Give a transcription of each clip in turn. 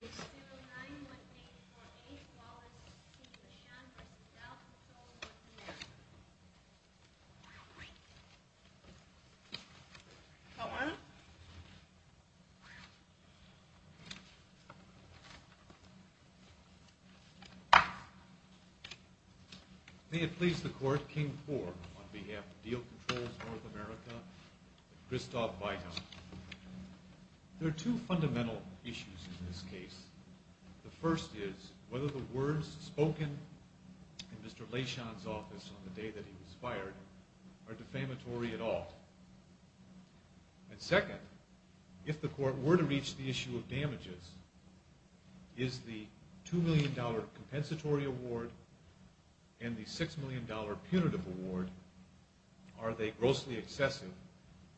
Case 09-1848, Wallace v. Leyshon v. Diehl Controls North America. May it please the Court, King IV, on behalf of Diehl Controls North America, Christoph Weihrauch. There are two fundamental issues in this case. The first is whether the words spoken in Mr. Leyshon's office on the day that he was fired are defamatory at all. And second, if the Court were to reach the issue of damages, is the $2 million compensatory award and the $6 million punitive award, are they grossly excessive,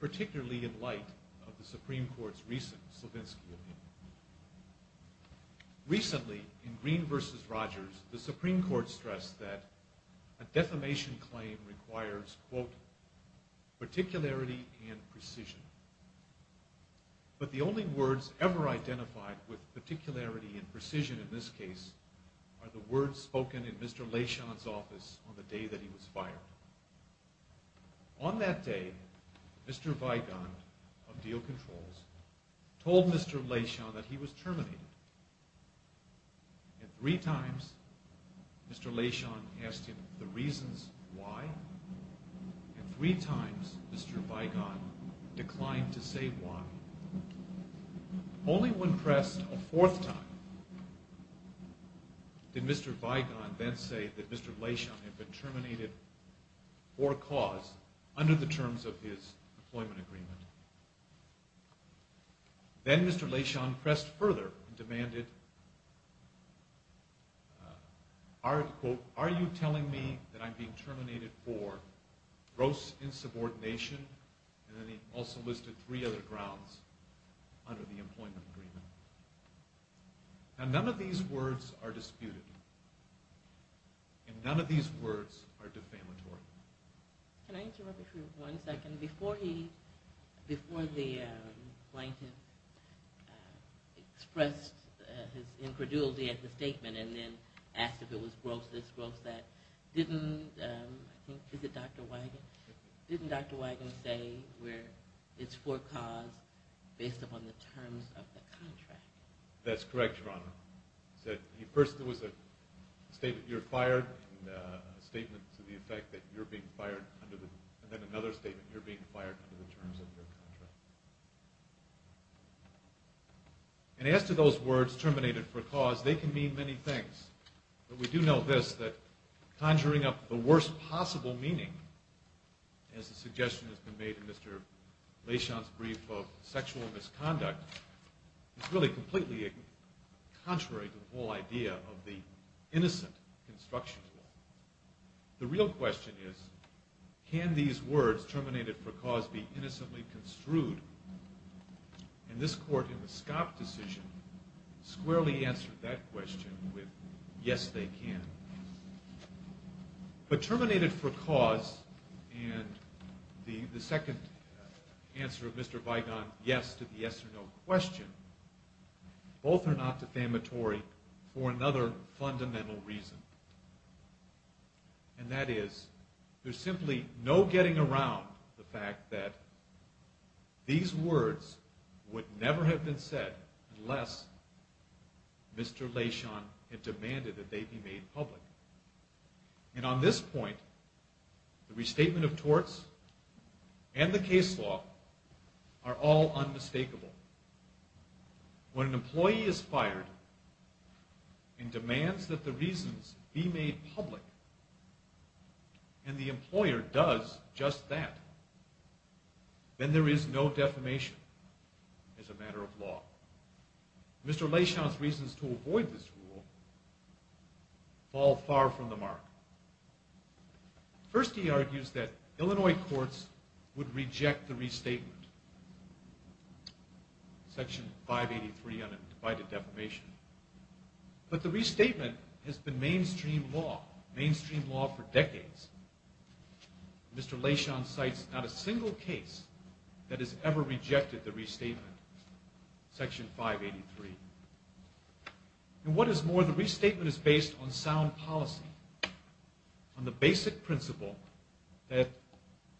particularly in light of the Supreme Court's recent Slavinsky opinion? Recently, in Green v. Rogers, the Supreme Court stressed that a defamation claim requires, quote, particularity and precision. But the only words ever identified with particularity and precision in this case are the words spoken in Mr. Leyshon's office on the day that he was fired. On that day, Mr. Weigand of Diehl Controls told Mr. Leyshon that he was terminated. And three times, Mr. Leyshon asked him the reasons why. And three times, Mr. Weigand declined to say why. Only when pressed a fourth time did Mr. Weigand then say that Mr. Leyshon had been terminated for a cause under the terms of his employment agreement. Then Mr. Leyshon pressed further and demanded, quote, are you telling me that I'm being terminated for gross insubordination? And then he also listed three other grounds under the employment agreement. Now, none of these words are disputed. And none of these words are defamatory. Can I interrupt you for one second? Before the plaintiff expressed his incredulity at the statement and then asked if it was gross this, gross that, didn't, I think, is it Dr. Weigand? Didn't Dr. Weigand say it's for cause based upon the terms of the contract? That's correct, Your Honor. First there was a statement, you're fired, and a statement to the effect that you're being fired, and then another statement, you're being fired under the terms of your contract. And as to those words, terminated for cause, they can mean many things. But we do know this, that conjuring up the worst possible meaning, as the suggestion has been made in Mr. Leyshon's brief of sexual misconduct, is really completely contrary to the whole idea of the innocent construction law. The real question is, can these words, terminated for cause, be innocently construed? And this court in the Scott decision squarely answered that question with, yes, they can. But terminated for cause and the second answer of Mr. Weigand, yes to the yes or no question, both are not defamatory for another fundamental reason. And that is, there's simply no getting around the fact that these words would never have been said unless Mr. Leyshon had demanded that they be made public. And on this point, the restatement of torts and the case law are all unmistakable. When an employee is fired and demands that the reasons be made public, and the employer does just that, then there is no defamation as a matter of law. Mr. Leyshon's reasons to avoid this rule fall far from the mark. First, he argues that Illinois courts would reject the restatement. Section 583 on undivided defamation. But the restatement has been mainstream law, mainstream law for decades. Mr. Leyshon cites not a single case that has ever rejected the restatement, section 583. And what is more, the restatement is based on sound policy, on the basic principle that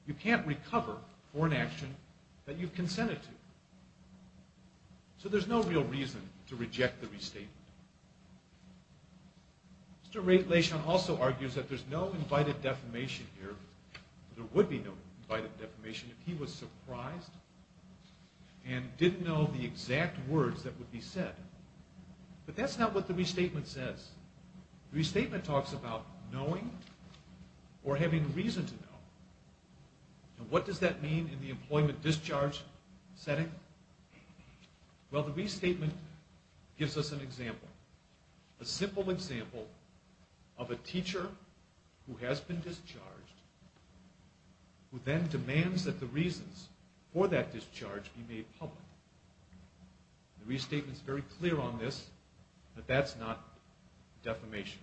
you can't recover for an action that you've consented to. So there's no real reason to reject the restatement. Mr. Leyshon also argues that there's no undivided defamation here. There would be no undivided defamation if he was surprised and didn't know the exact words that would be said. But that's not what the restatement says. The restatement talks about knowing or having reason to know. And what does that mean in the employment discharge setting? Well, the restatement gives us an example, a simple example of a teacher who has been discharged who then demands that the reasons for that discharge be made public. The restatement is very clear on this, but that's not defamation.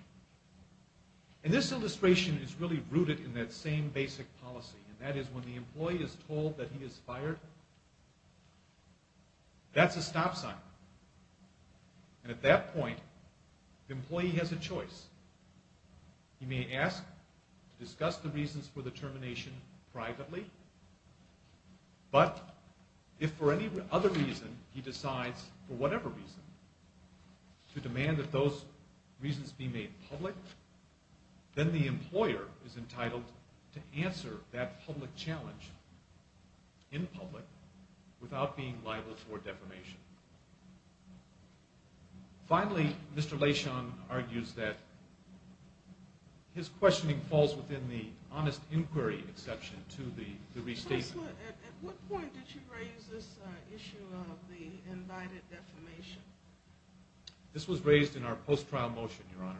And this illustration is really rooted in that same basic policy, and that is when the employee is told that he is fired, that's a stop sign. And at that point, the employee has a choice. He may ask to discuss the reasons for the termination privately, but if for any other reason he decides, for whatever reason, to demand that those reasons be made public, then the employer is entitled to answer that public challenge, in public, without being liable for defamation. Finally, Mr. Leyshon argues that his questioning falls within the honest inquiry exception to the restatement. At what point did you raise this issue of the invited defamation? This was raised in our post-trial motion, Your Honor.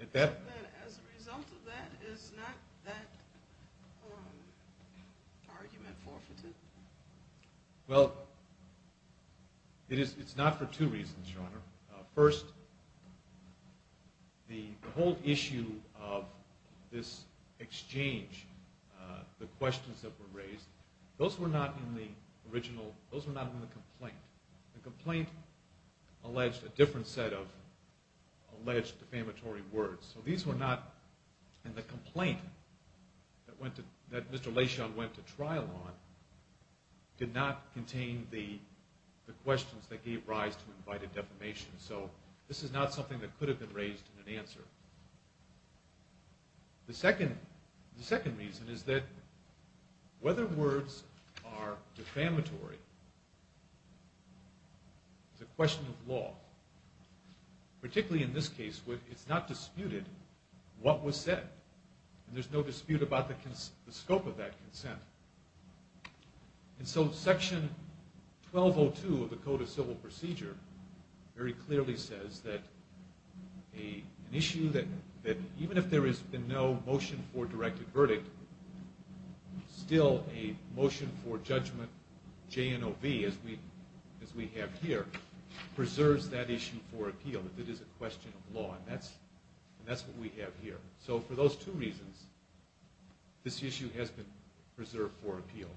As a result of that, is not that argument forfeited? First, the whole issue of this exchange, the questions that were raised, those were not in the original, those were not in the complaint. The complaint alleged a different set of alleged defamatory words. So these were not in the complaint that Mr. Leyshon went to trial on, did not contain the questions that gave rise to invited defamation. So this is not something that could have been raised in an answer. The second reason is that whether words are defamatory is a question of law. Particularly in this case, it's not disputed what was said. And there's no dispute about the scope of that consent. And so Section 1202 of the Code of Civil Procedure very clearly says that an issue that even if there is no motion for directed verdict, still a motion for judgment, JNOV, as we have here, preserves that issue for appeal. It is a question of law, and that's what we have here. So for those two reasons, this issue has been preserved for appeal.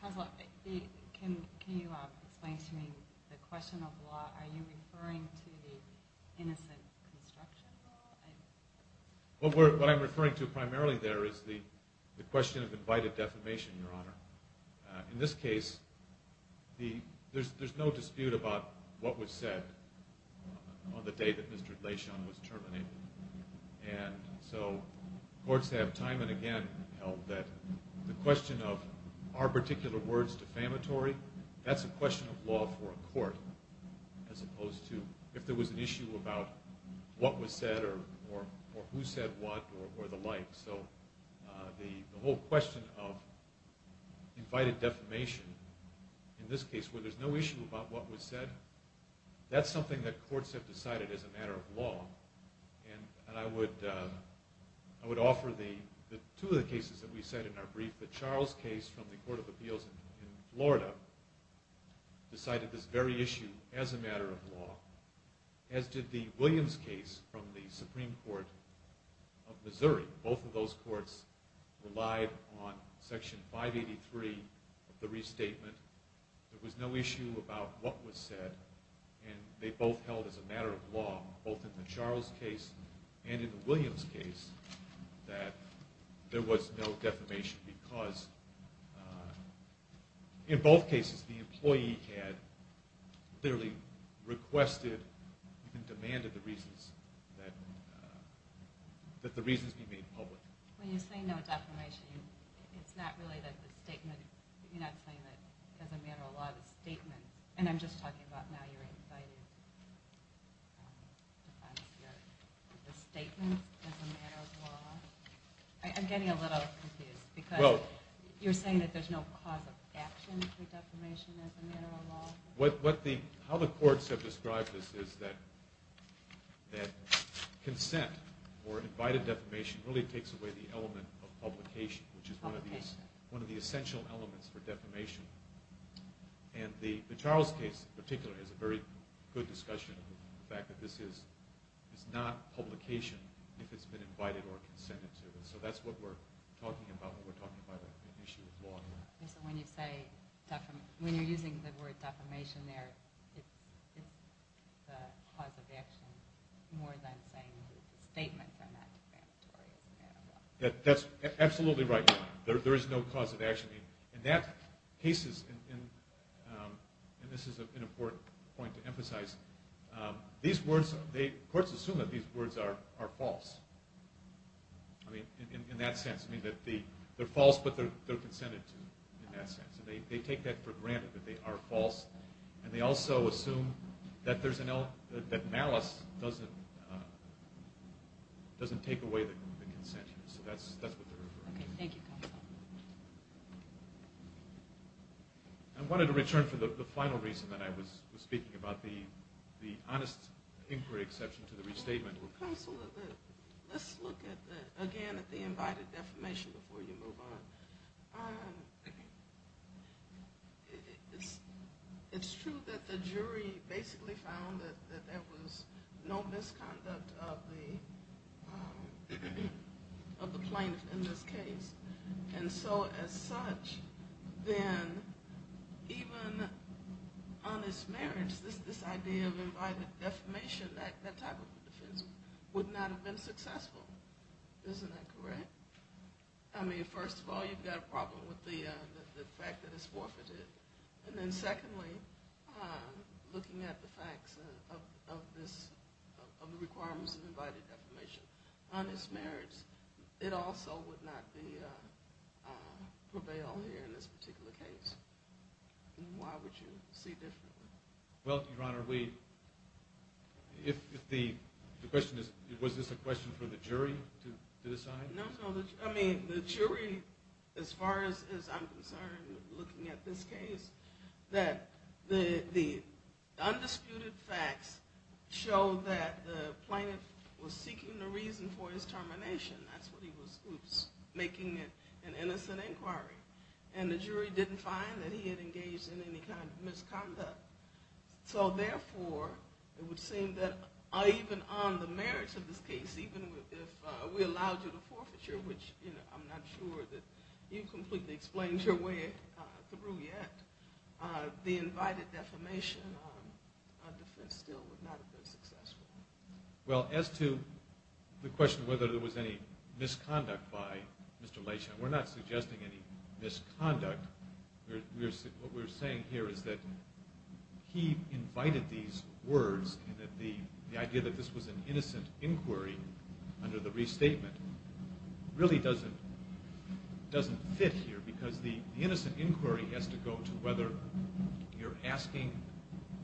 Counselor, can you explain to me the question of law? Are you referring to the innocent construction law? What I'm referring to primarily there is the question of invited defamation, Your Honor. In this case, there's no dispute about what was said on the day that Mr. Leshon was terminated. And so courts have time and again held that the question of are particular words defamatory, that's a question of law for a court as opposed to if there was an issue about what was said or who said what or the like. So the whole question of invited defamation in this case, where there's no issue about what was said, that's something that courts have decided as a matter of law. And I would offer two of the cases that we said in our brief. The Charles case from the Court of Appeals in Florida decided this very issue as a matter of law, as did the Williams case from the Supreme Court of Missouri. Both of those courts relied on Section 583 of the restatement. There was no issue about what was said, and they both held as a matter of law, both in the Charles case and in the Williams case, that there was no defamation because in both cases the employee had clearly requested and demanded that the reasons be made public. When you say no defamation, it's not really that the statement, you're not saying that as a matter of law the statement, and I'm just talking about now you're inciting defamation, the statement as a matter of law. I'm getting a little confused because you're saying that there's no cause of action for defamation as a matter of law. How the courts have described this is that consent or invited defamation really takes away the element of publication, which is one of the essential elements for defamation. And the Charles case in particular has a very good discussion of the fact that this is not publication if it's been invited or consented to. So that's what we're talking about when we're talking about an issue of law. So when you're using the word defamation there, it's the cause of action more than saying that the statements are not defamatory as a matter of law. That's absolutely right. There is no cause of action. In that case, and this is an important point to emphasize, courts assume that these words are false in that sense. They're false, but they're consented to in that sense. They take that for granted that they are false, and they also assume that malice doesn't take away the consent. So that's what they're referring to. Okay, thank you, Counselor. I wanted to return to the final reason that I was speaking about, the honest inquiry exception to the restatement. Counselor, let's look again at the invited defamation before you move on. It's true that the jury basically found that there was no misconduct of the plaintiff in this case. And so as such, then even honest marriage, this idea of invited defamation, that type of defense, would not have been successful. Isn't that correct? I mean, first of all, you've got a problem with the fact that it's forfeited. And then secondly, looking at the facts of the requirements of invited defamation, honest marriage, it also would not prevail here in this particular case. Why would you see differently? Well, Your Honor, if the question is, was this a question for the jury to decide? No, no. I mean, the jury, as far as I'm concerned, looking at this case, that the undisputed facts show that the plaintiff was seeking a reason for his termination. That's what he was making an innocent inquiry. And the jury didn't find that he had engaged in any kind of misconduct. So, therefore, it would seem that even on the merits of this case, even if we allowed you to forfeiture, which I'm not sure that you've completely explained your way through yet, the invited defamation defense still would not have been successful. Well, as to the question of whether there was any misconduct by Mr. Lashen, we're not suggesting any misconduct. What we're saying here is that he invited these words and that the idea that this was an innocent inquiry under the restatement really doesn't fit here because the innocent inquiry has to go to whether you're asking,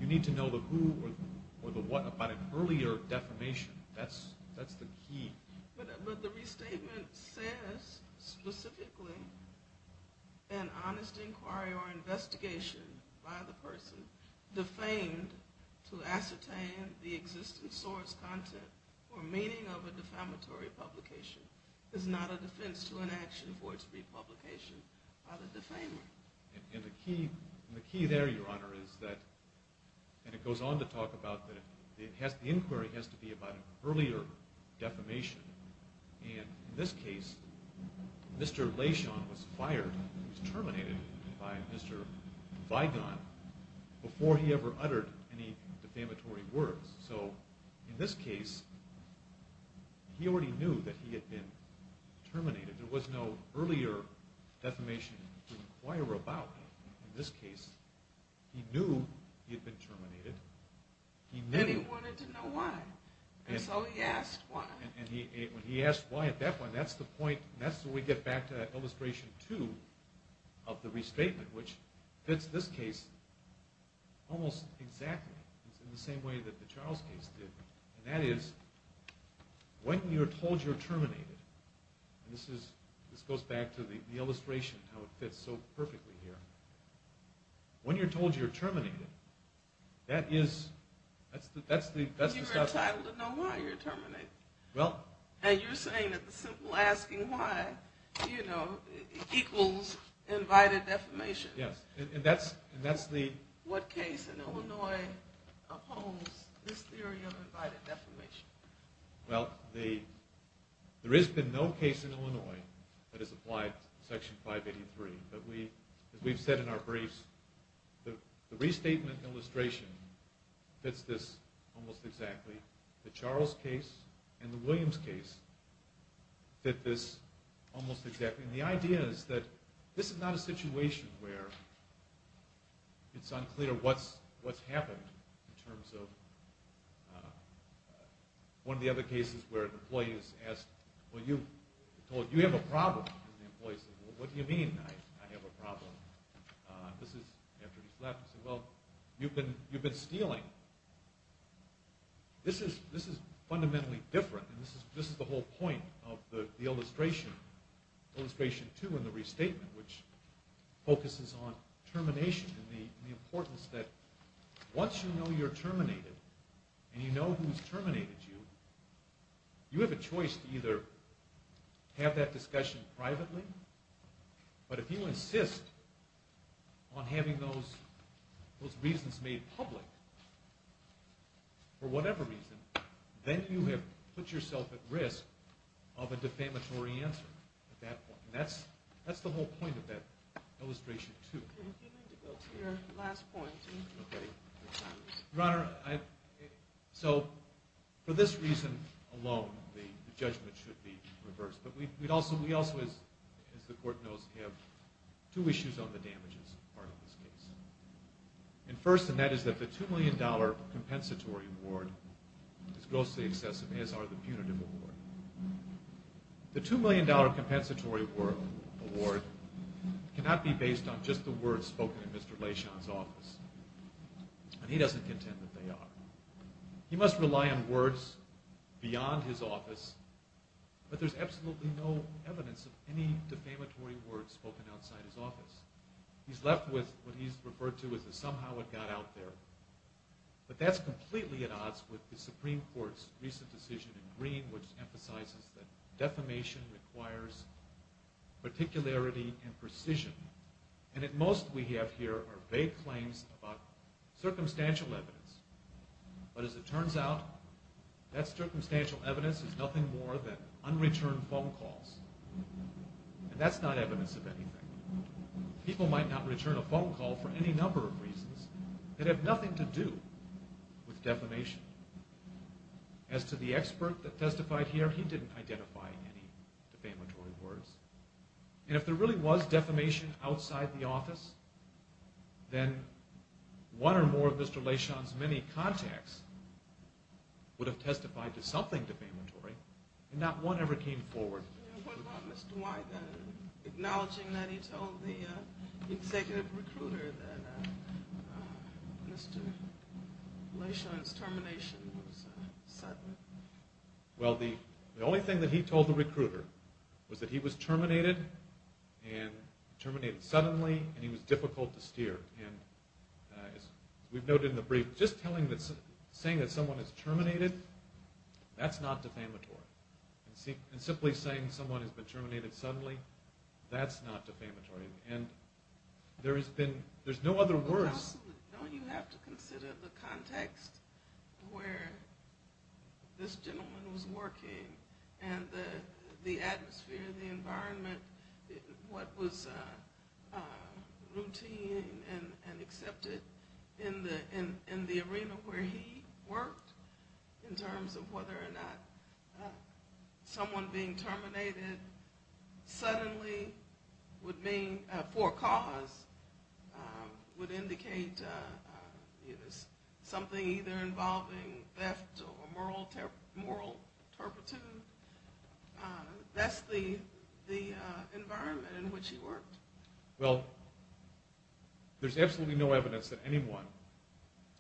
you need to know the who or the what about an earlier defamation. That's the key. But the restatement says specifically an honest inquiry or investigation by the person defamed to ascertain the existence, source, content, or meaning of a defamatory publication is not a defense to an action for its republication by the defamer. And the key there, Your Honor, is that, and it goes on to talk about that the inquiry has to be about an earlier defamation. And in this case, Mr. Lashen was fired, was terminated by Mr. Vigon before he ever uttered any defamatory words. So in this case, he already knew that he had been terminated. There was no earlier defamation to inquire about. In this case, he knew he had been terminated. And he wanted to know why. And so he asked why. And when he asked why at that point, that's the point, that's when we get back to illustration two of the restatement, which fits this case almost exactly in the same way that the Charles case did. And that is, when you're told you're terminated, and this goes back to the illustration of how it fits so perfectly here, when you're told you're terminated, that is, that's the stuff. You're entitled to know why you're terminated. Well. And you're saying that the simple asking why, you know, equals invited defamation. Yes, and that's the. What case in Illinois upholds this theory of invited defamation? Well, there has been no case in Illinois that has applied to Section 583. But as we've said in our briefs, the restatement illustration fits this almost exactly. The Charles case and the Williams case fit this almost exactly. And the idea is that this is not a situation where it's unclear what's happened in terms of... One of the other cases where an employee is asked, well, you're told you have a problem. And the employee says, well, what do you mean I have a problem? This is after he's left. He says, well, you've been stealing. This is fundamentally different. And this is the whole point of the illustration, illustration two in the restatement, which focuses on termination and the importance that once you know you're terminated and you know who's terminated you, you have a choice to either have that discussion privately. But if you insist on having those reasons made public for whatever reason, then you have put yourself at risk of a defamatory answer at that point. And that's the whole point of that illustration two. You need to go to your last point. Your Honor, so for this reason alone, the judgment should be reversed. But we also, as the Court knows, have two issues on the damages part of this case. And first, and that is that the $2 million compensatory award is grossly excessive, as are the punitive award. The $2 million compensatory award cannot be based on just the words spoken in Mr. Lashon's office. And he doesn't contend that they are. He must rely on words beyond his office, but there's absolutely no evidence of any defamatory words spoken outside his office. He's left with what he's referred to as a somehow it got out there. But that's completely at odds with the Supreme Court's recent decision in Green, which emphasizes that defamation requires particularity and precision. And at most we have here are vague claims about circumstantial evidence. But as it turns out, that circumstantial evidence is nothing more than unreturned phone calls. And that's not evidence of anything. People might not return a phone call for any number of reasons that have nothing to do with defamation. As to the expert that testified here, he didn't identify any defamatory words. And if there really was defamation outside the office, then one or more of Mr. Lashon's many contacts would have testified to something defamatory, and not one ever came forward. What about Mr. Wyden acknowledging that he told the executive recruiter that Mr. Lashon's termination was sudden? Well, the only thing that he told the recruiter was that he was terminated, and terminated suddenly, and he was difficult to steer. And as we've noted in the brief, just saying that someone is terminated, that's not defamatory. And simply saying someone has been terminated suddenly, that's not defamatory. And there's no other words. Don't you have to consider the context where this gentleman was working and the atmosphere, the environment, what was routine and accepted in the arena where he worked in terms of whether or not someone being terminated suddenly would mean, for a cause, would indicate something either involving theft or moral turpitude? That's the environment in which he worked. Well, there's absolutely no evidence that anyone,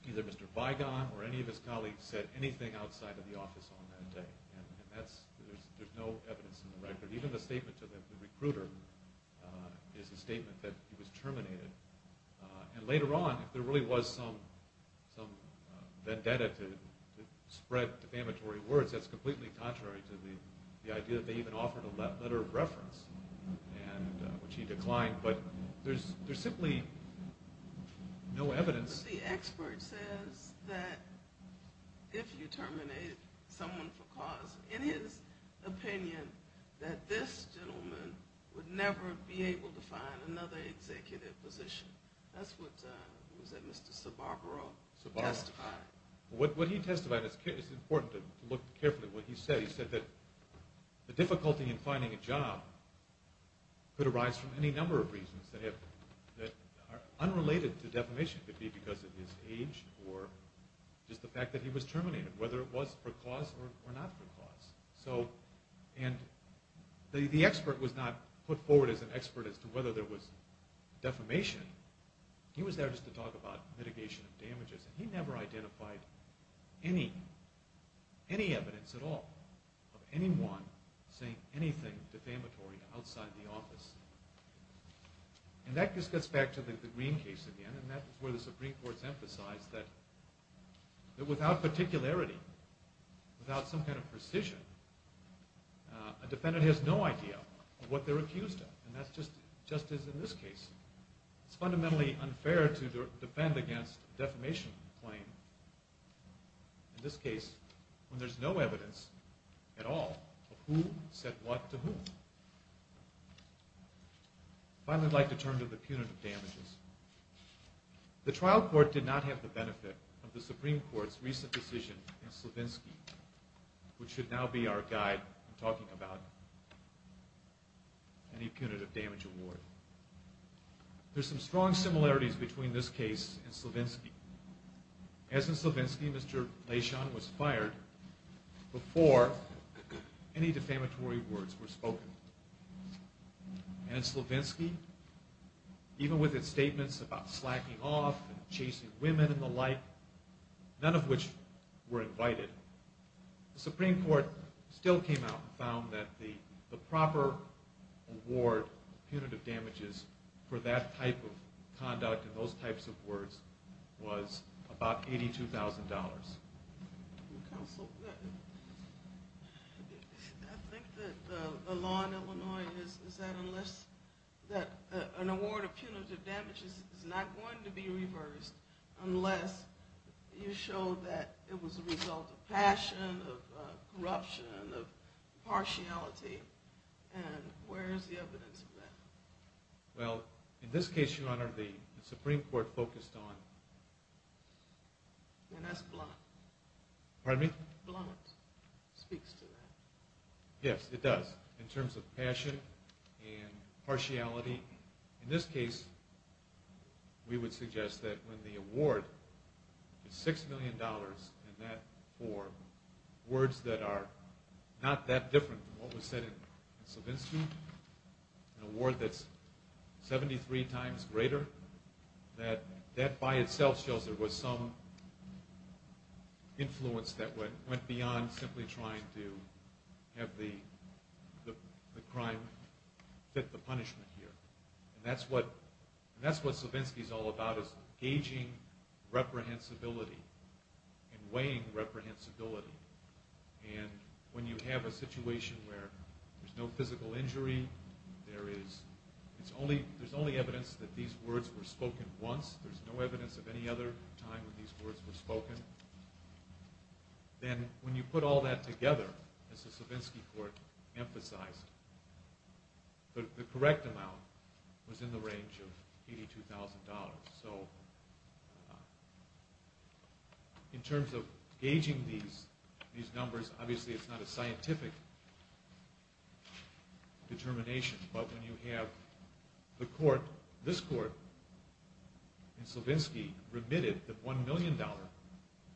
either Mr. Vigon or any of his colleagues, said anything outside of the office on that day, and there's no evidence in the record. Even the statement to the recruiter is a statement that he was terminated. And later on, if there really was some vendetta to spread defamatory words, that's completely contrary to the idea that they even offered a letter of reference, which he declined, but there's simply no evidence. But the expert says that if you terminate someone for cause, in his opinion, that this gentleman would never be able to find another executive position. That's what Mr. Sababro testified. What he testified, it's important to look carefully at what he said. He said that the difficulty in finding a job could arise from any number of reasons that are unrelated to defamation. It could be because of his age or just the fact that he was terminated, whether it was for cause or not for cause. And the expert was not put forward as an expert as to whether there was defamation. He was there just to talk about mitigation of damages, and he never identified any evidence at all of anyone saying anything defamatory outside the office. And that just gets back to the Green case again, and that's where the Supreme Court's emphasized that without particularity, without some kind of precision, a defendant has no idea of what they're accused of, and that's just as in this case. It's fundamentally unfair to defend against a defamation claim, in this case when there's no evidence at all of who said what to whom. Finally, I'd like to turn to the punitive damages. The trial court did not have the benefit of the Supreme Court's recent decision in Slavinsky, which should now be our guide in talking about any punitive damage award. There's some strong similarities between this case and Slavinsky. As in Slavinsky, Mr. Leshon was fired before any defamatory words were spoken. And in Slavinsky, even with its statements about slacking off and chasing women and the like, none of which were invited, the Supreme Court still came out and found that the proper award of punitive damages for that type of conduct and those types of words was about $82,000. Counsel, I think that the law in Illinois is that an award of punitive damages is not going to be reversed unless you show that it was a result of passion, of corruption, of partiality, and where is the evidence of that? Well, in this case, Your Honor, the Supreme Court focused on... And that's blunt. Pardon me? Blunt speaks to that. Yes, it does, in terms of passion and partiality. In this case, we would suggest that when the award is $6 million and that for words that are not that different from what was said in Slavinsky, an award that's 73 times greater, that that by itself shows there was some influence that went beyond simply trying to have the crime fit the punishment here. And that's what Slavinsky is all about, is gauging reprehensibility and weighing reprehensibility. And when you have a situation where there's no physical injury, there's only evidence that these words were spoken once. There's no evidence of any other time when these words were spoken. Then when you put all that together, as the Slavinsky Court emphasized, the correct amount was in the range of $82,000. So in terms of gauging these numbers, obviously it's not a scientific determination, but when you have the court, this court in Slavinsky, remitted the $1 million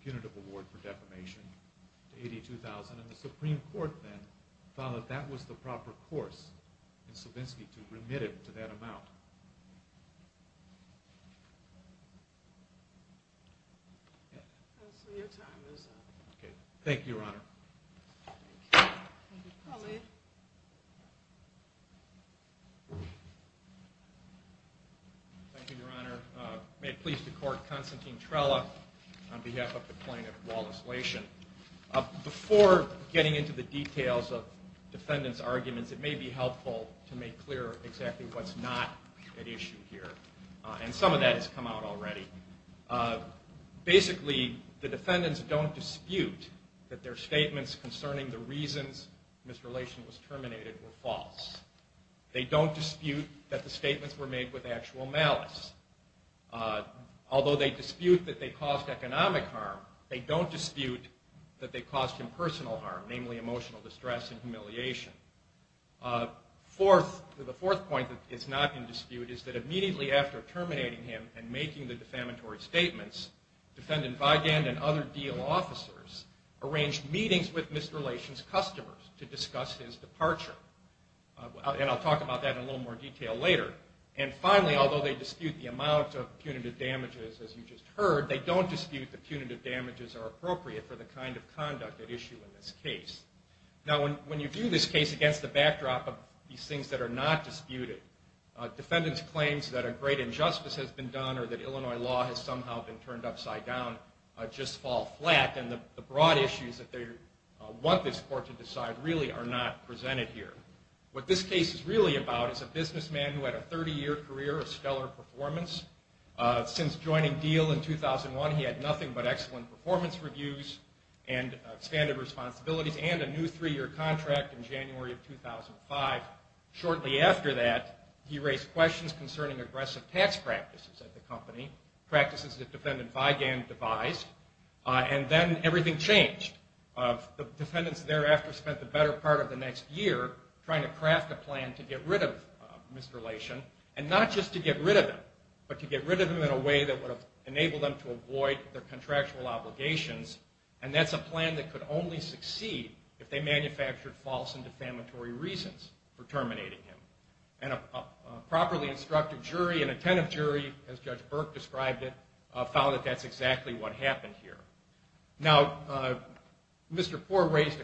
punitive award for defamation to $82,000, and the Supreme Court then found that that was the proper course in Slavinsky to remit it to that amount. Thank you, Your Honor. Thank you, Your Honor. May it please the Court, Constantine Trella on behalf of the plaintiff, Wallace Lation. Before getting into the details of defendants' arguments, it may be helpful to make clear exactly what's not at issue here, and some of that has come out already. Basically, the defendants don't dispute that their statements concerning the reasons Ms. Lation was terminated were false. They don't dispute that the statements were made with actual malice. Although they dispute that they caused economic harm, they don't dispute that they caused impersonal harm, namely emotional distress and humiliation. The fourth point that is not in dispute is that immediately after terminating him and making the defamatory statements, Defendant Vigand and other deal officers arranged meetings with Mr. Lation's customers to discuss his departure. And I'll talk about that in a little more detail later. And finally, although they dispute the amount of punitive damages, as you just heard, they don't dispute the punitive damages are appropriate for the kind of conduct at issue in this case. Now, when you view this case against the backdrop of these things that are not disputed, defendants' claims that a great injustice has been done or that Illinois law has somehow been turned upside down just fall flat, and the broad issues that they want this court to decide really are not presented here. What this case is really about is a businessman who had a 30-year career of stellar performance. Since joining Diehl in 2001, he had nothing but excellent performance reviews and expanded responsibilities and a new three-year contract in January of 2005. Shortly after that, he raised questions concerning aggressive tax practices at the company, practices that Defendant Vigand devised. And then everything changed. The defendants thereafter spent the better part of the next year trying to craft a plan to get rid of Mr. Lation, and not just to get rid of him, but to get rid of him in a way that would enable them to avoid their contractual obligations, and that's a plan that could only succeed if they manufactured false and defamatory reasons for terminating him. And a properly instructed jury, an attentive jury, as Judge Burke described it, found that that's exactly what happened here. Now, Mr. Poore raised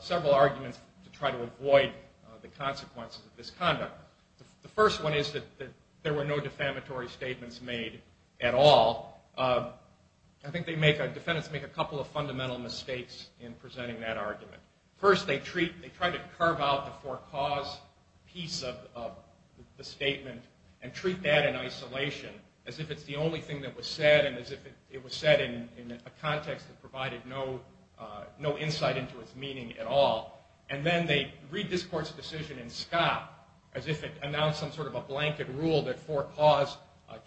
several arguments to try to avoid the consequences of this conduct. The first one is that there were no defamatory statements made at all. I think defendants make a couple of fundamental mistakes in presenting that argument. First, they try to carve out the for cause piece of the statement and treat that in isolation as if it's the only thing that was said and as if it was said in a context that provided no insight into its meaning at all. And then they read this court's decision in scope as if it announced some sort of a blanket rule that for cause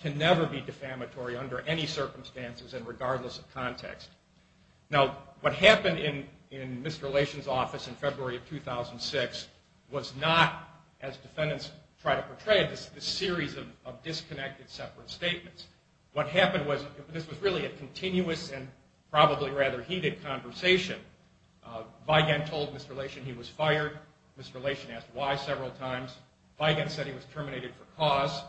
can never be defamatory under any circumstances and regardless of context. Now, what happened in Mr. Lation's office in February of 2006 was not, as defendants try to portray it, this series of disconnected separate statements. What happened was this was really a continuous and probably rather heated conversation. Vigan told Mr. Lation he was fired. Mr. Lation asked why several times. Vigan said he was terminated for cause.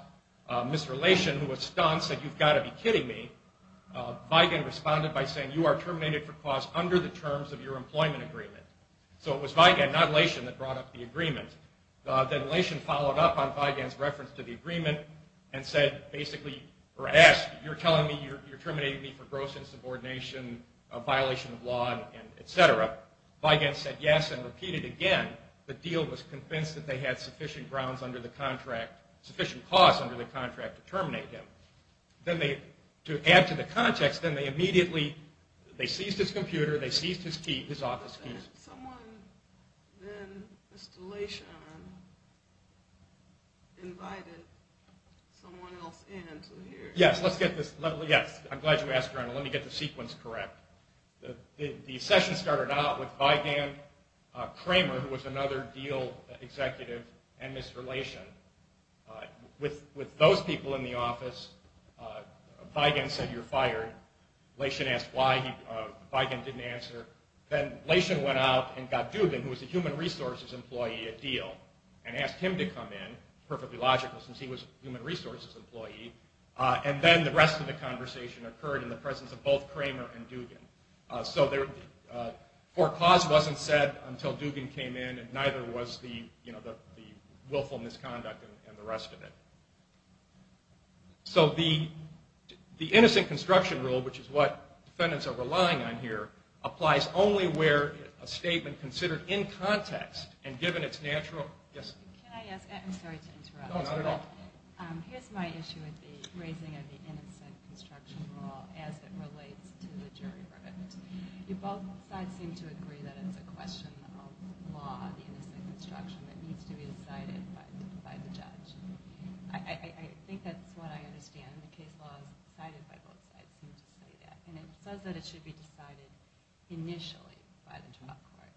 Mr. Lation, who was stunned, said, you've got to be kidding me. Vigan responded by saying, you are terminated for cause under the terms of your employment agreement. So it was Vigan, not Lation, that brought up the agreement. Then Lation followed up on Vigan's reference to the agreement and said basically or asked, you're telling me you're terminating me for gross insubordination, a violation of law, et cetera. Vigan said yes and repeated again the deal was convinced that they had sufficient grounds under the contract, sufficient cause under the contract to terminate him. Then they, to add to the context, then they immediately, they seized his computer, they seized his office keys. Someone then, Mr. Lation, invited someone else in to hear. Yes. Let's get this. Yes. I'm glad you asked, Ronald. Let me get the sequence correct. The session started out with Vigan, Kramer, who was another deal executive, and Mr. Lation. With those people in the office, Vigan said you're fired. Lation asked why. Vigan didn't answer. Then Lation went out and got Dugan, who was a human resources employee at Diehl, and asked him to come in, perfectly logical since he was a human resources employee, and then the rest of the conversation occurred in the presence of both Kramer and Dugan. So the court clause wasn't said until Dugan came in, and neither was the willful misconduct and the rest of it. So the innocent construction rule, which is what defendants are relying on here, applies only where a statement considered in context and given its natural, yes. Can I ask, I'm sorry to interrupt. No, not at all. Here's my issue with the raising of the innocent construction rule as it relates to the jury verdict. You both sides seem to agree that it's a question of law, the innocent construction, that needs to be decided by the judge. I think that's what I understand. The case law is decided by both sides. And it says that it should be decided initially by the trial court.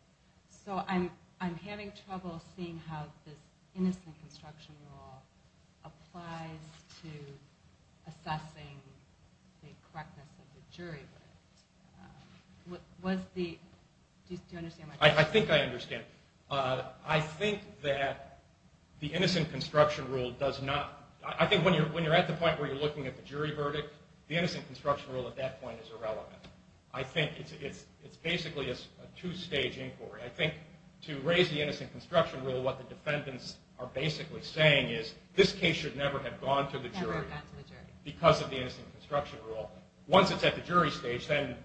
So I'm having trouble seeing how this innocent construction rule applies to assessing the correctness of the jury verdict. Do you understand my question? I think I understand. I think that the innocent construction rule does not – I think when you're at the point where you're looking at the jury verdict, the innocent construction rule at that point is irrelevant. I think it's basically a two-stage inquiry. I think to raise the innocent construction rule, what the defendants are basically saying is this case should never have gone to the jury because of the innocent construction rule. Once it's at the jury stage, then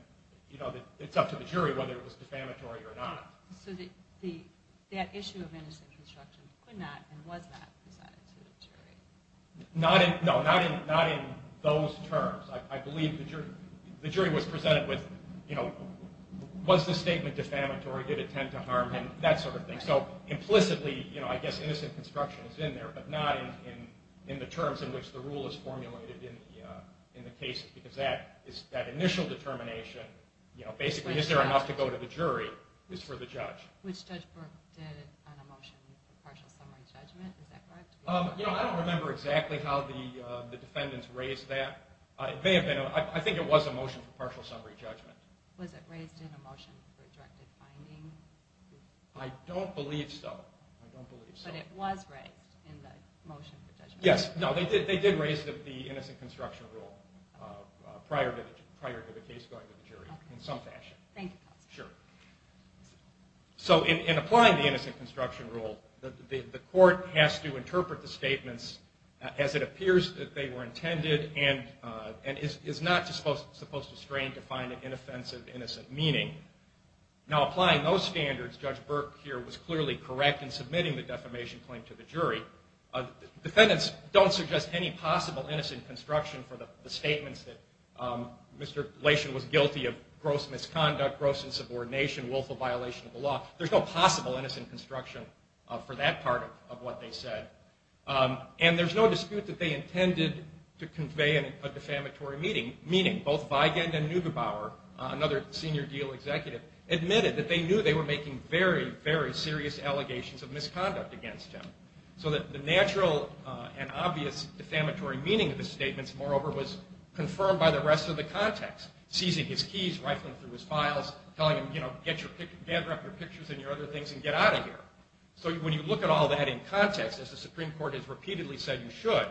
it's up to the jury whether it was defamatory or not. So that issue of innocent construction could not and was not presented to the jury? No, not in those terms. I believe the jury was presented with, you know, was the statement defamatory, did it tend to harm him, that sort of thing. So implicitly, you know, I guess innocent construction is in there, but not in the terms in which the rule is formulated in the case because that initial determination, you know, basically is there enough to go to the jury, is for the judge. Which Judge Burke did on a motion for partial summary judgment, is that correct? You know, I don't remember exactly how the defendants raised that. I think it was a motion for partial summary judgment. Was it raised in a motion for directed finding? I don't believe so. But it was raised in the motion for judgment? Yes, no, they did raise the innocent construction rule prior to the case going to the jury in some fashion. Thank you, counsel. Sure. So in applying the innocent construction rule, the court has to interpret the statements as it appears that they were intended and is not supposed to strain to find an inoffensive, innocent meaning. Now, applying those standards, Judge Burke here was clearly correct in submitting the defamation claim to the jury. Defendants don't suggest any possible innocent construction for the statements that Mr. Lation was guilty of gross misconduct, gross insubordination, willful violation of the law. There's no possible innocent construction for that part of what they said. And there's no dispute that they intended to convey a defamatory meaning. Both Weigand and Neugebauer, another senior deal executive, admitted that they knew they were making very, very serious allegations of misconduct against him. So the natural and obvious defamatory meaning of the statements, moreover, was confirmed by the rest of the context, seizing his keys, rifling through his files, telling him, you know, gather up your pictures and your other things and get out of here. So when you look at all that in context, as the Supreme Court has repeatedly said you should,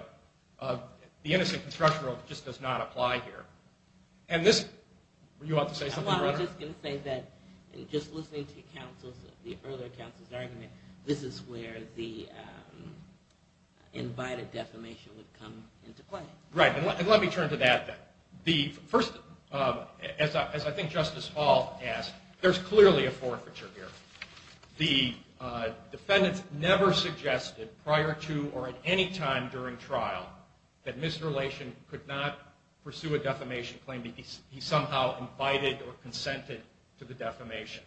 the innocent construction rule just does not apply here. And this, were you about to say something? I was just going to say that just listening to the earlier counsel's argument, this is where the invited defamation would come into play. Right. And let me turn to that then. First, as I think Justice Hall asked, there's clearly a forfeiture here. The defendants never suggested prior to or at any time during trial that Mr. Lashen could not pursue a defamation claim. He somehow invited or consented to the defamation.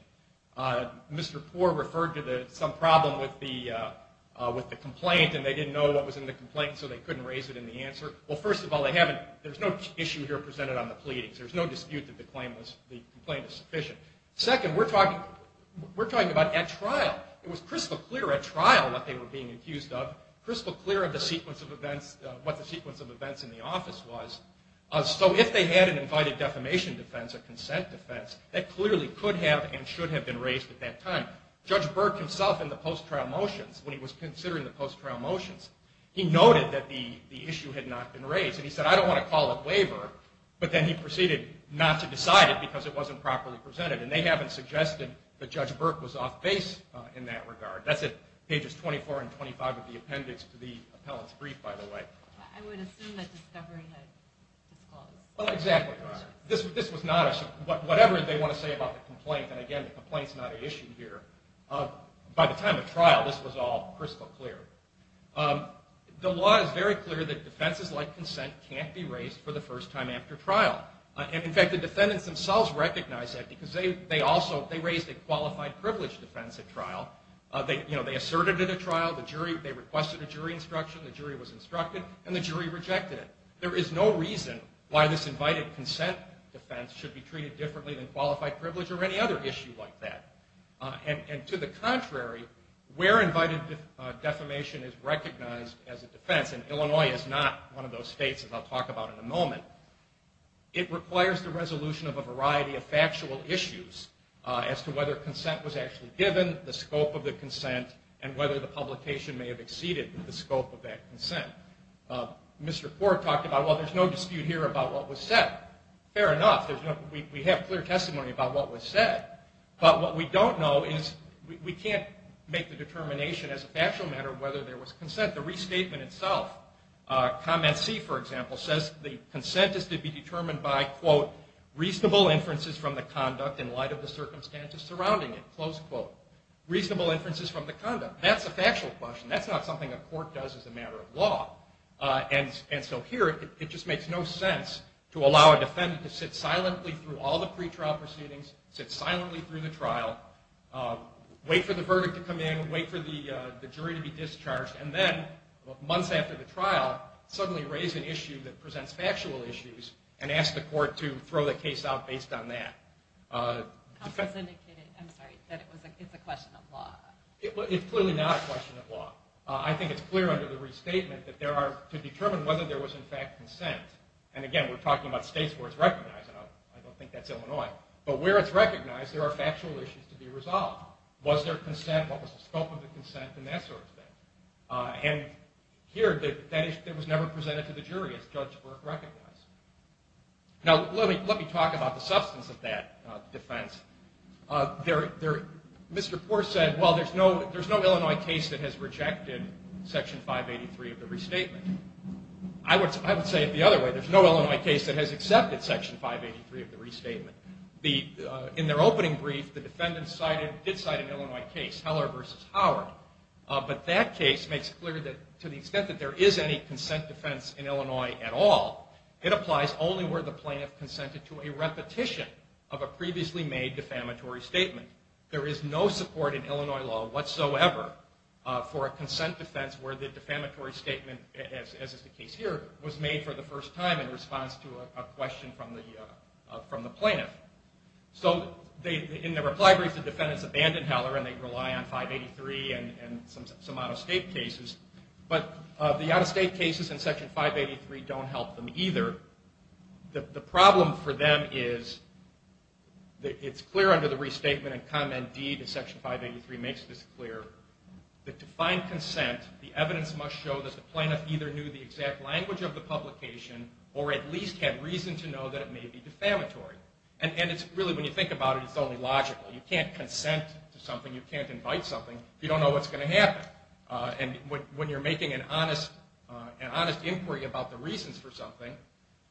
Mr. Poore referred to some problem with the complaint, and they didn't know what was in the complaint, so they couldn't raise it in the answer. Well, first of all, there's no issue here presented on the pleadings. There's no dispute that the complaint is sufficient. Second, we're talking about at trial. It was crystal clear at trial what they were being accused of, crystal clear of what the sequence of events in the office was. So if they had an invited defamation defense, a consent defense, that clearly could have and should have been raised at that time. Judge Burke himself in the post-trial motions, when he was considering the post-trial motions, he noted that the issue had not been raised, and he said, I don't want to call a waiver, but then he proceeded not to decide it because it wasn't properly presented, and they haven't suggested that Judge Burke was off base in that regard. That's at pages 24 and 25 of the appendix to the appellant's brief, by the way. I would assume that discovery had been disclosed. Exactly. This was not a – whatever they want to say about the complaint, and again, the complaint's not an issue here. By the time of trial, this was all crystal clear. The law is very clear that defenses like consent can't be raised for the first time after trial. In fact, the defendants themselves recognize that because they raised a qualified privilege defense at trial. They asserted it at trial, they requested a jury instruction, the jury was instructed, and the jury rejected it. There is no reason why this invited consent defense should be treated differently than qualified privilege or any other issue like that. To the contrary, where invited defamation is recognized as a defense, and Illinois is not one of those states that I'll talk about in a moment, it requires the resolution of a variety of factual issues as to whether consent was actually given, the scope of the consent, and whether the publication may have exceeded the scope of that consent. Mr. Ford talked about, well, there's no dispute here about what was said. Fair enough. We have clear testimony about what was said. But what we don't know is we can't make the determination as a factual matter whether there was consent. The restatement itself, comment C, for example, says the consent is to be determined by, quote, reasonable inferences from the conduct in light of the circumstances surrounding it, close quote. Reasonable inferences from the conduct. That's a factual question. That's not something a court does as a matter of law. And so here it just makes no sense to allow a defendant to sit silently through all the pretrial proceedings, sit silently through the trial, wait for the verdict to come in, wait for the jury to be discharged, and then months after the trial suddenly raise an issue that presents factual issues and ask the court to throw the case out based on that. Counsel has indicated, I'm sorry, that it's a question of law. It's clearly not a question of law. I think it's clear under the restatement that there are to determine whether there was, in fact, consent. And, again, we're talking about states where it's recognized, and I don't think that's Illinois. But where it's recognized there are factual issues to be resolved. Was there consent? What was the scope of the consent and that sort of thing? And here that issue was never presented to the jury as Judge Burke recognized. Now let me talk about the substance of that defense. Mr. Poore said, well, there's no Illinois case that has rejected Section 583 of the restatement. I would say it the other way. There's no Illinois case that has accepted Section 583 of the restatement. In their opening brief, the defendant did cite an Illinois case, Heller v. Howard. But that case makes it clear that to the extent that there is any consent defense in Illinois at all, it applies only where the plaintiff consented to a repetition of a previously made defamatory statement. There is no support in Illinois law whatsoever for a consent defense where the defamatory statement, as is the case here, was made for the first time in response to a question from the plaintiff. So in their reply brief, the defendants abandon Heller, and they rely on 583 and some out-of-state cases. But the out-of-state cases in Section 583 don't help them either. The problem for them is that it's clear under the restatement, and Comment D to Section 583 makes this clear, that to find consent, the evidence must show that the plaintiff either knew the exact language of the publication or at least had reason to know that it may be defamatory. And really, when you think about it, it's only logical. You can't consent to something. You can't invite something if you don't know what's going to happen. And when you're making an honest inquiry about the reasons for something,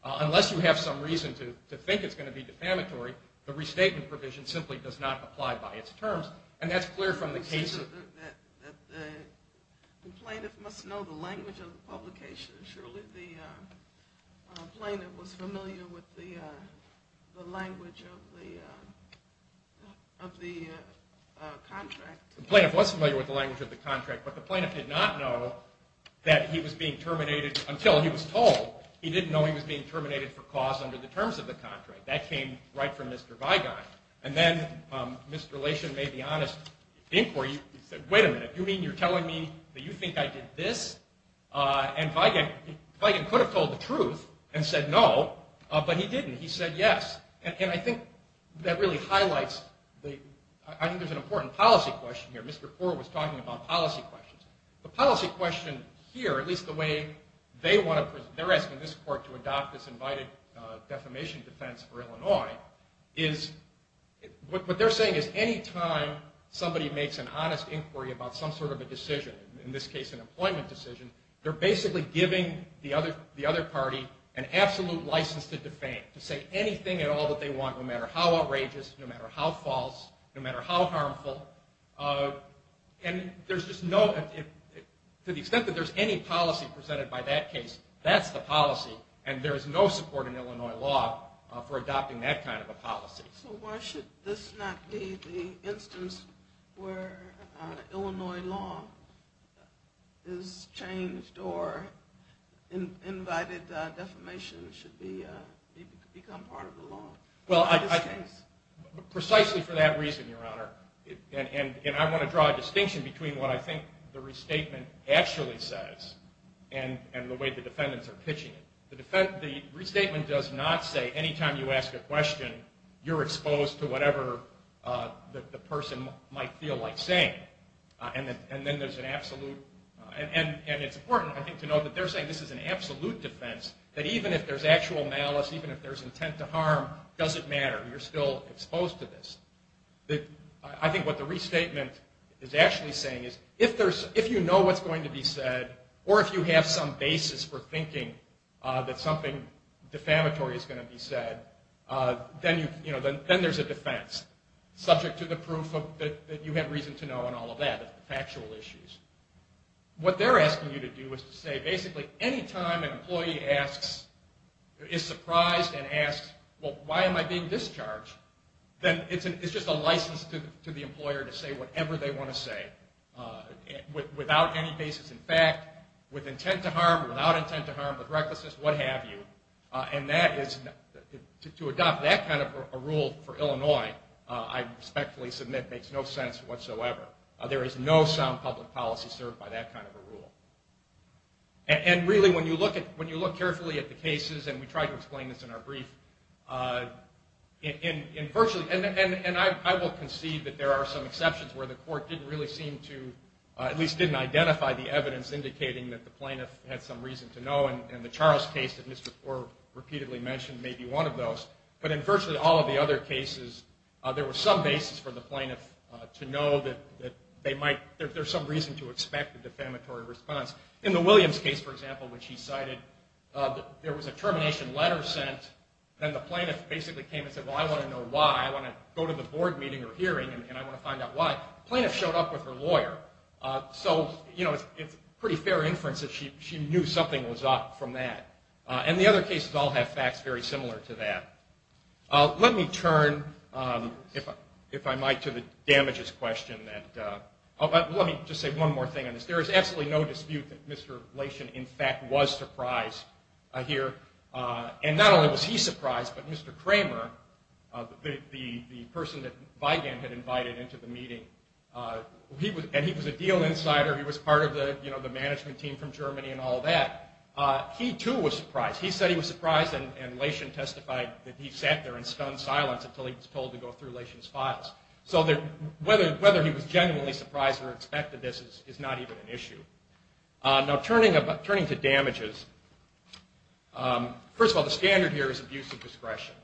unless you have some reason to think it's going to be defamatory, the restatement provision simply does not apply by its terms. And that's clear from the case. The plaintiff must know the language of the publication. Surely the plaintiff was familiar with the language of the contract. The plaintiff was familiar with the language of the contract, but the plaintiff did not know that he was being terminated until he was told. He didn't know he was being terminated for cause under the terms of the contract. That came right from Mr. Vigon. And then Mr. Lation made the honest inquiry. He said, wait a minute, you mean you're telling me that you think I did this? And Vigon could have told the truth and said no, but he didn't. He said yes. And I think that really highlights the – I think there's an important policy question here. Mr. Poore was talking about policy questions. The policy question here, at least the way they want to – they're asking this court to adopt this invited defamation defense for Illinois, is what they're saying is any time somebody makes an honest inquiry about some sort of a decision, in this case an employment decision, they're basically giving the other party an absolute license to defame, to say anything at all that they want, no matter how outrageous, no matter how false, no matter how harmful. And there's just no – to the extent that there's any policy presented by that case, that's the policy, and there is no support in Illinois law for adopting that kind of a policy. So why should this not be the instance where Illinois law is changed or invited defamation should become part of the law in this case? Precisely for that reason, Your Honor. And I want to draw a distinction between what I think the restatement actually says and the way the defendants are pitching it. The restatement does not say any time you ask a question, you're exposed to whatever the person might feel like saying. And then there's an absolute – and it's important, I think, to note that they're saying this is an absolute defense, that even if there's actual malice, even if there's intent to harm, it doesn't matter. You're still exposed to this. I think what the restatement is actually saying is if you know what's going to be said or if you have some basis for thinking that something defamatory is going to be said, then there's a defense subject to the proof that you have reason to know and all of that, the factual issues. What they're asking you to do is to say basically any time an employee is surprised and asks, well, why am I being discharged? Then it's just a license to the employer to say whatever they want to say without any basis in fact, with intent to harm, without intent to harm, with recklessness, what have you. And to adopt that kind of a rule for Illinois, I respectfully submit, makes no sense whatsoever. There is no sound public policy served by that kind of a rule. And really when you look carefully at the cases, and we try to explain this in our brief, and I will concede that there are some exceptions where the court didn't really seem to, at least didn't identify the evidence indicating that the plaintiff had some reason to know and the Charles case that Mr. Thorpe repeatedly mentioned may be one of those. But in virtually all of the other cases, there was some basis for the plaintiff to know that there's some reason to expect a defamatory response. In the Williams case, for example, which he cited, there was a termination letter sent, and the plaintiff basically came and said, well, I want to know why. I want to go to the board meeting or hearing, and I want to find out why. The plaintiff showed up with her lawyer. So, you know, it's pretty fair inference that she knew something was up from that. And the other cases all have facts very similar to that. Let me turn, if I might, to the damages question. Let me just say one more thing on this. There is absolutely no dispute that Mr. Blation, in fact, was surprised here. And not only was he surprised, but Mr. Kramer, the person that Vigand had invited into the meeting, and he was a deal insider. He was part of the management team from Germany and all that. He, too, was surprised. He said he was surprised, and Blation testified that he sat there in stunned silence until he was told to go through Blation's files. So whether he was genuinely surprised or expected this is not even an issue. Now, turning to damages, first of all, the standard here is abuse of discretion.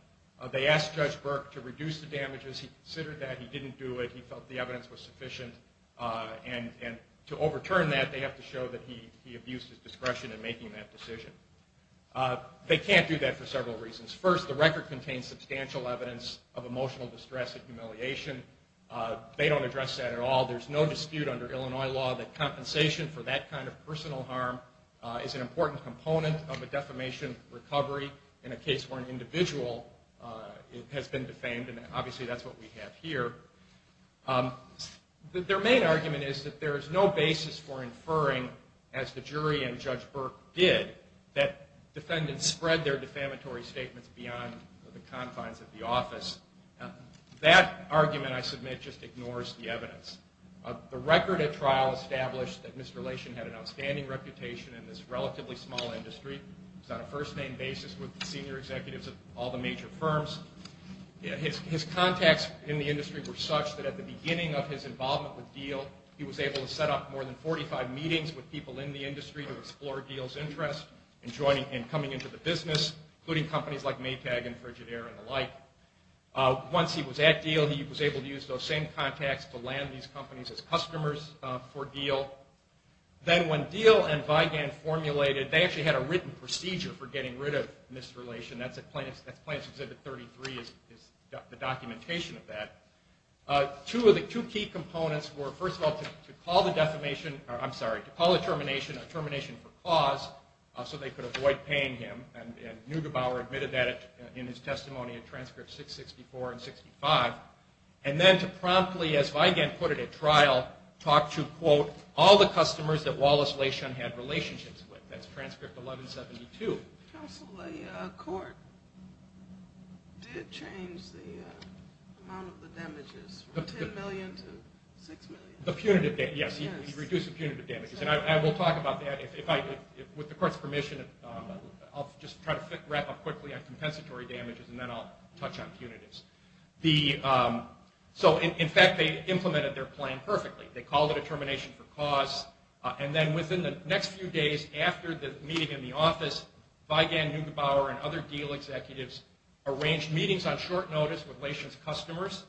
They asked Judge Burke to reduce the damages. He considered that. He didn't do it. He felt the evidence was sufficient. And to overturn that, they have to show that he abused his discretion in making that decision. They can't do that for several reasons. First, the record contains substantial evidence of emotional distress and humiliation. They don't address that at all. There's no dispute under Illinois law that compensation for that kind of personal harm is an important component of a defamation recovery in a case where an individual has been defamed. And obviously that's what we have here. Their main argument is that there is no basis for inferring, as the jury and Judge Burke did, that defendants spread their defamatory statements beyond the confines of the office. That argument, I submit, just ignores the evidence. The record at trial established that Mr. Blation had an outstanding reputation in this relatively small industry. He was on a first-name basis with the senior executives of all the major firms. His contacts in the industry were such that at the beginning of his involvement with Diehl, he was able to set up more than 45 meetings with people in the industry to explore Diehl's interests in coming into the business, including companies like Maytag and Frigidaire and the like. Once he was at Diehl, he was able to use those same contacts to land these companies as customers for Diehl. Then when Diehl and Vigan formulated, they actually had a written procedure for getting rid of Mr. Blation. That's Plaintiff's Exhibit 33 is the documentation of that. Two key components were, first of all, to call the termination a termination for cause so they could avoid paying him, and Neugebauer admitted that in his testimony in Transcript 664 and 665, and then to promptly, as Vigan put it at trial, talk to, quote, all the customers that Wallace Blation had relationships with. That's Transcript 1172. Counsel, the court did change the amount of the damages from $10 million to $6 million. Yes, he reduced the punitive damages. I will talk about that. With the court's permission, I'll just try to wrap up quickly on compensatory damages, and then I'll touch on punitives. In fact, they implemented their plan perfectly. They called it a termination for cause, and then within the next few days after the meeting in the office, Vigan, Neugebauer, and other deal executives arranged meetings on short notice with Blation's customers,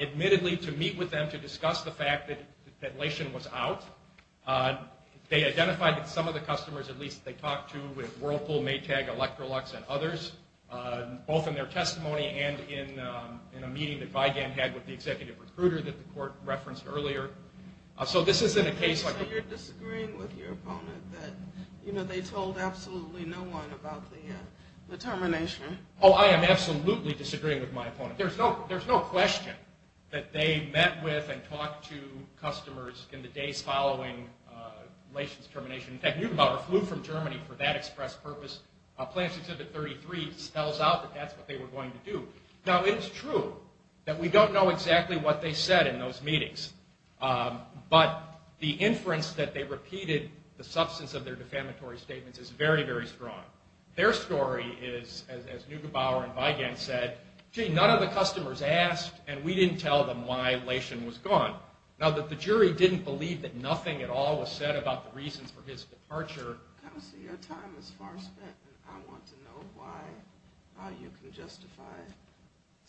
admittedly to meet with them to discuss the fact that Blation was out. They identified that some of the customers, at least, they talked to with Whirlpool, Maytag, Electrolux, and others, both in their testimony and in a meeting that Vigan had with the executive recruiter that the court referenced earlier. So this isn't a case like... So you're disagreeing with your opponent that, you know, they told absolutely no one about the termination. Oh, I am absolutely disagreeing with my opponent. There's no question that they met with and talked to customers in the days following Blation's termination. In fact, Neugebauer flew from Germany for that express purpose. Plan 633 spells out that that's what they were going to do. Now, it's true that we don't know exactly what they said in those meetings, but the inference that they repeated, the substance of their defamatory statements is very, very strong. Their story is, as Neugebauer and Vigan said, gee, none of the customers asked, and we didn't tell them why Blation was gone. Now, that the jury didn't believe that nothing at all was said about the reasons for his departure... Counsel, your time is far spent. I want to know how you can justify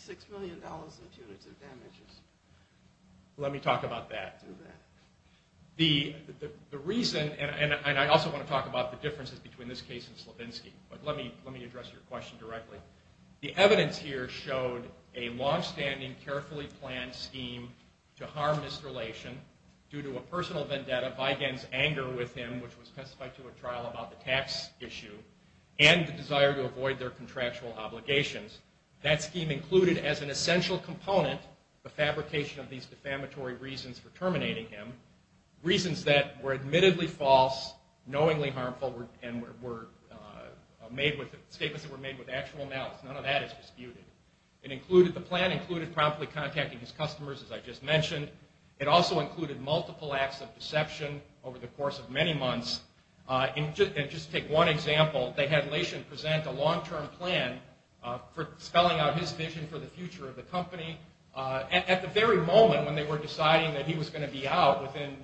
$6 million in punitive damages. Let me talk about that. Do that. The reason, and I also want to talk about the differences between this case and Slavinsky, but let me address your question directly. The evidence here showed a longstanding, carefully planned scheme to harm Mr. Blation due to a personal vendetta. Vigan's anger with him, which was specified to a trial about the tax issue, and the desire to avoid their contractual obligations. That scheme included as an essential component the fabrication of these defamatory reasons for terminating him, reasons that were admittedly false, knowingly harmful, and statements that were made with actual malice. None of that is disputed. The plan included promptly contacting his customers, as I just mentioned. It also included multiple acts of deception over the course of many months. And just to take one example, they had Blation present a long-term plan for spelling out his vision for the future of the company at the very moment when they were deciding that he was going to be out within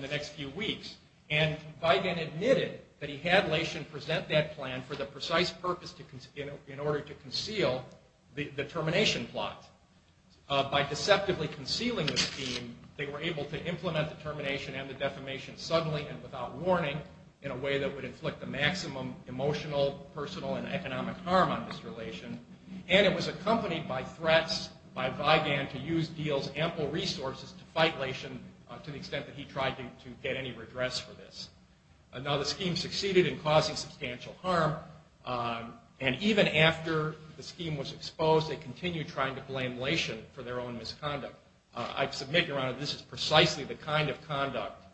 the next few weeks. And Vigan admitted that he had Blation present that plan for the precise purpose in order to conceal the termination plot. By deceptively concealing the scheme, they were able to implement the termination and the defamation suddenly and without warning in a way that would inflict the maximum emotional, personal, and economic harm on Mr. Blation. And it was accompanied by threats by Vigan to use Diehl's ample resources to fight Blation to the extent that he tried to get any redress for this. Now, the scheme succeeded in causing substantial harm. And even after the scheme was exposed, they continued trying to blame Blation for their own misconduct. I submit, Your Honor, this is precisely the kind of conduct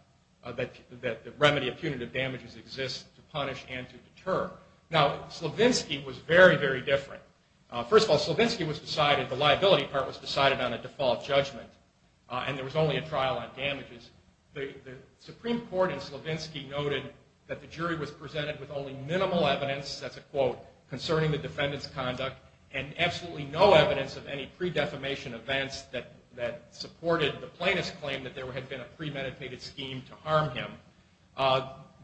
that the remedy of punitive damages exists to punish and to deter. Now, Slavinsky was very, very different. First of all, Slavinsky was decided, the liability part was decided on a default judgment, and there was only a trial on damages. The Supreme Court in Slavinsky noted that the jury was presented with only minimal evidence, that's a quote, concerning the defendant's conduct and absolutely no evidence of any pre-defamation events that supported the plaintiff's claim that there had been a premeditated scheme to harm him.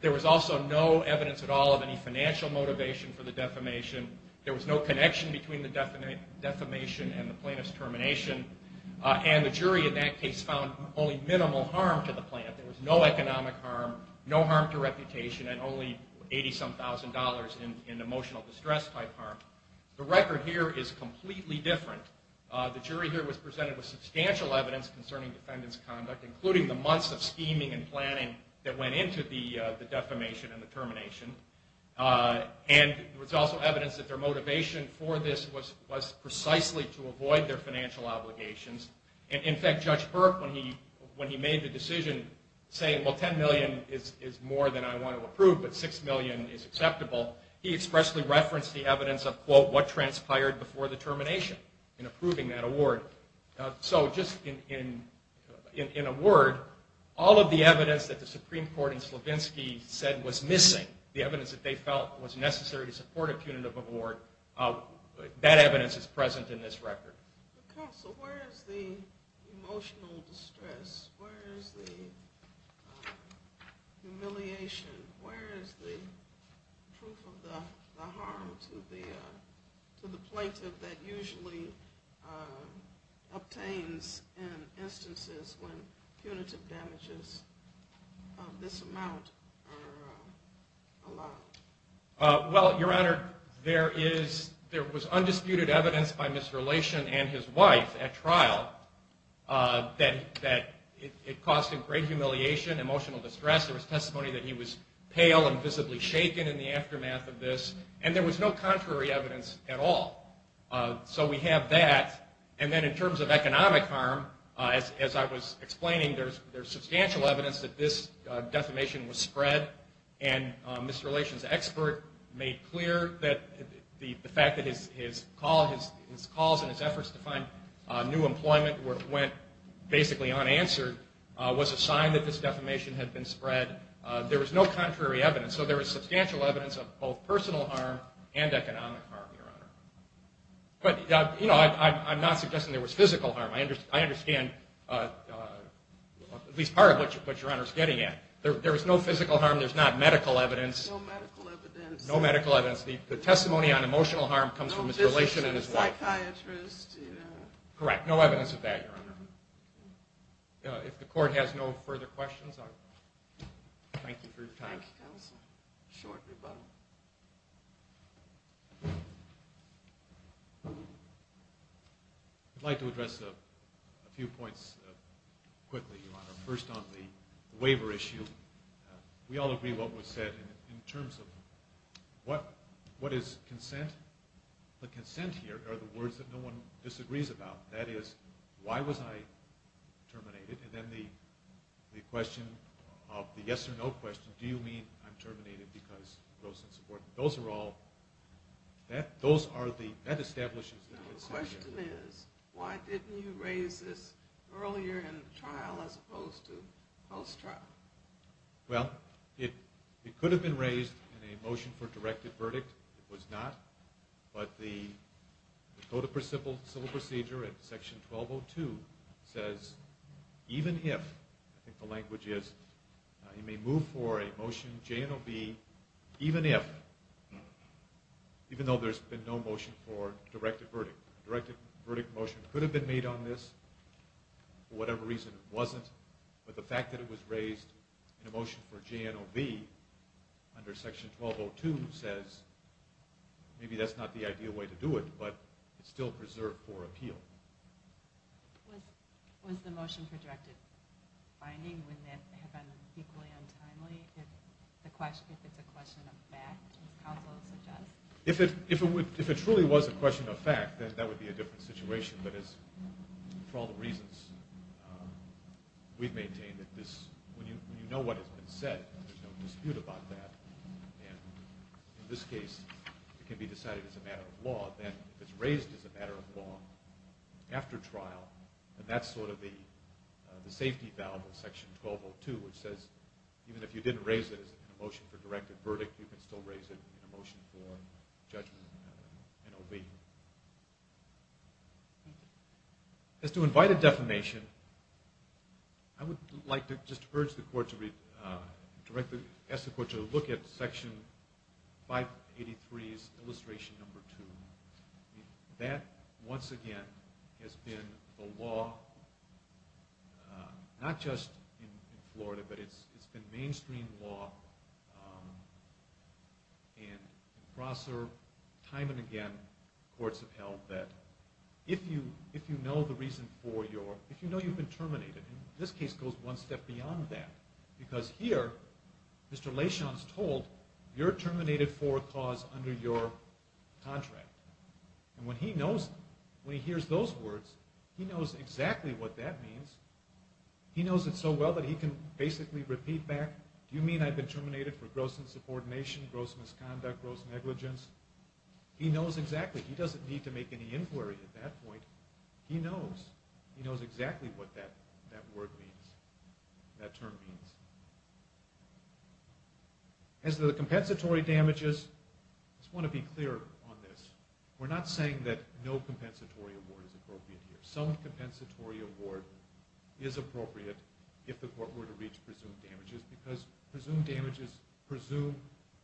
There was also no evidence at all of any financial motivation for the defamation. There was no connection between the defamation and the plaintiff's termination. And the jury in that case found only minimal harm to the plaintiff. There was no economic harm, no harm to reputation, and only $80-some thousand in emotional distress-type harm. The record here is completely different. The jury here was presented with substantial evidence concerning the defendant's conduct, including the months of scheming and planning that went into the defamation and the termination. And there was also evidence that their motivation for this was precisely to avoid their financial obligations. In fact, Judge Burke, when he made the decision saying, well, $10 million is more than I want to approve, but $6 million is acceptable, he expressly referenced the evidence of, quote, what transpired before the termination in approving that award. So just in a word, all of the evidence that the Supreme Court in Slavinsky said was missing, the evidence that they felt was necessary to support a punitive award, that evidence is present in this record. Counsel, where is the emotional distress? Where is the humiliation? Where is the proof of the harm to the plaintiff that usually obtains in instances when punitive damages of this amount are allowed? Well, Your Honor, there was undisputed evidence by Ms. Relation and his wife at trial that it caused him great humiliation, emotional distress. There was testimony that he was pale and visibly shaken in the aftermath of this. And there was no contrary evidence at all. So we have that. And then in terms of economic harm, as I was explaining, there's substantial evidence that this defamation was spread and Mr. Relation's expert made clear that the fact that his calls and his efforts to find new employment went basically unanswered was a sign that this defamation had been spread. There was no contrary evidence. So there was substantial evidence of both personal harm and economic harm, Your Honor. But, you know, I'm not suggesting there was physical harm. I understand at least part of what Your Honor is getting at. There was no physical harm. There's not medical evidence. No medical evidence. No medical evidence. The testimony on emotional harm comes from Ms. Relation and his wife. No physical, psychiatrist, you know. Correct. No evidence of that, Your Honor. If the court has no further questions, I'll thank you for your time. Thank you, Counsel. A short rebuttal. I'd like to address a few points quickly, Your Honor. First on the waiver issue. We all agree what was said in terms of what is consent. The consent here are the words that no one disagrees about. That is, why was I terminated? And then the question of the yes or no question, do you mean I'm terminated because of gross insubordination. Those are all, that establishes the consent here. The question is, why didn't you raise this earlier in the trial as opposed to post-trial? Well, it could have been raised in a motion for directed verdict. It was not. But the Code of Civil Procedure in Section 1202 says, even if, I think the language is, you may move for a motion J and O B, even if, even though there's been no motion for directed verdict. Directed verdict motion could have been made on this. For whatever reason, it wasn't. But the fact that it was raised in a motion for J and O B under Section 1202 says maybe that's not the ideal way to do it, but it's still preserved for appeal. Was the motion for directed finding, would that have been equally untimely if it's a question of fact, as counsel suggests? If it truly was a question of fact, then that would be a different situation. But for all the reasons we've maintained, when you know what has been said, there's no dispute about that. And in this case, it can be decided as a matter of law. Then if it's raised as a matter of law after trial, then that's sort of the safety valve of Section 1202, which says, even if you didn't raise it in a motion for directed verdict, you can still raise it in a motion for J and O B. As to invited defamation, I would like to just urge the Court to read, ask the Court to look at Section 583's illustration number 2. That, once again, has been the law not just in Florida, but it's been mainstream law. And we've observed time and again in the courts of hell that if you know you've been terminated, this case goes one step beyond that. Because here, Mr. Lashon is told, you're terminated for a cause under your contract. And when he hears those words, he knows exactly what that means. He knows it so well that he can basically repeat back, do you mean I've been terminated for gross insubordination, gross misconduct, gross negligence? He knows exactly. He doesn't need to make any inquiry at that point. He knows. He knows exactly what that word means, that term means. As to the compensatory damages, I just want to be clear on this. We're not saying that no compensatory award is appropriate here. Some compensatory award is appropriate if the court were to reach presumed damages, because presumed damages presume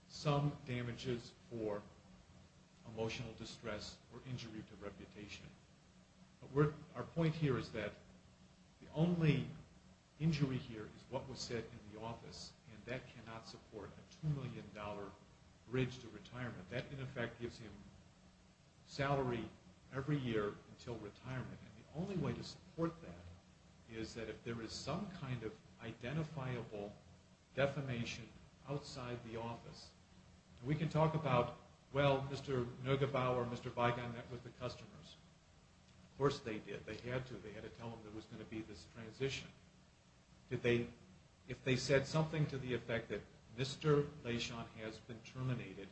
some damages for emotional distress or injury to reputation. But our point here is that the only injury here is what was said in the office, and that cannot support a $2 million bridge to retirement. That, in effect, gives him salary every year until retirement. And the only way to support that is that if there is some kind of identifiable defamation outside the office. We can talk about, well, Mr. Neugebauer, Mr. Weigand, that was the customers. Of course they did. They had to. They had to tell him there was going to be this transition. If they said something to the effect that Mr. Lechon has been terminated,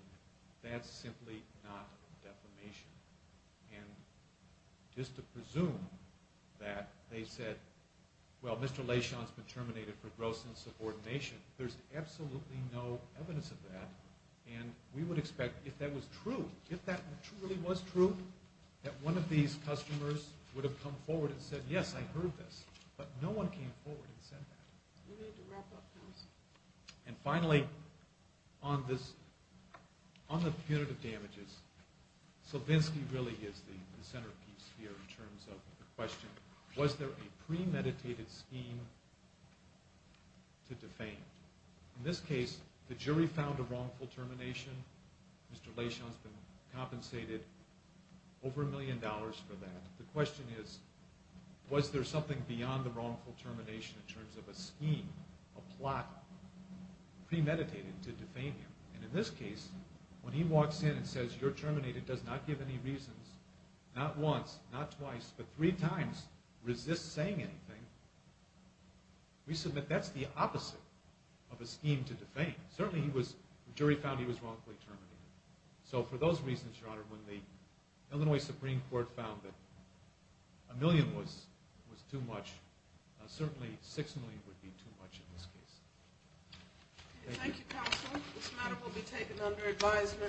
that's simply not defamation. And just to presume that they said, well, Mr. Lechon has been terminated for gross insubordination, there's absolutely no evidence of that. And we would expect, if that was true, if that really was true, that one of these customers would have come forward and said, yes, I heard this. But no one came forward and said that. We need to wrap up, counsel. And finally, on the punitive damages, Selvinsky really is the centerpiece here in terms of the question, was there a premeditated scheme to defame? In this case, the jury found a wrongful termination. Mr. Lechon has been compensated over a million dollars for that. The question is, was there something beyond the wrongful termination in terms of a scheme, a plot, premeditated to defame him? And in this case, when he walks in and says, you're terminated, does not give any reasons, not once, not twice, but three times, resists saying anything, we submit that's the opposite of a scheme to defame. Certainly the jury found he was wrongfully terminated. So for those reasons, Your Honor, when the Illinois Supreme Court found that a million was too much, certainly six million would be too much in this case. Thank you. Thank you, counsel. This matter will be taken under advisement.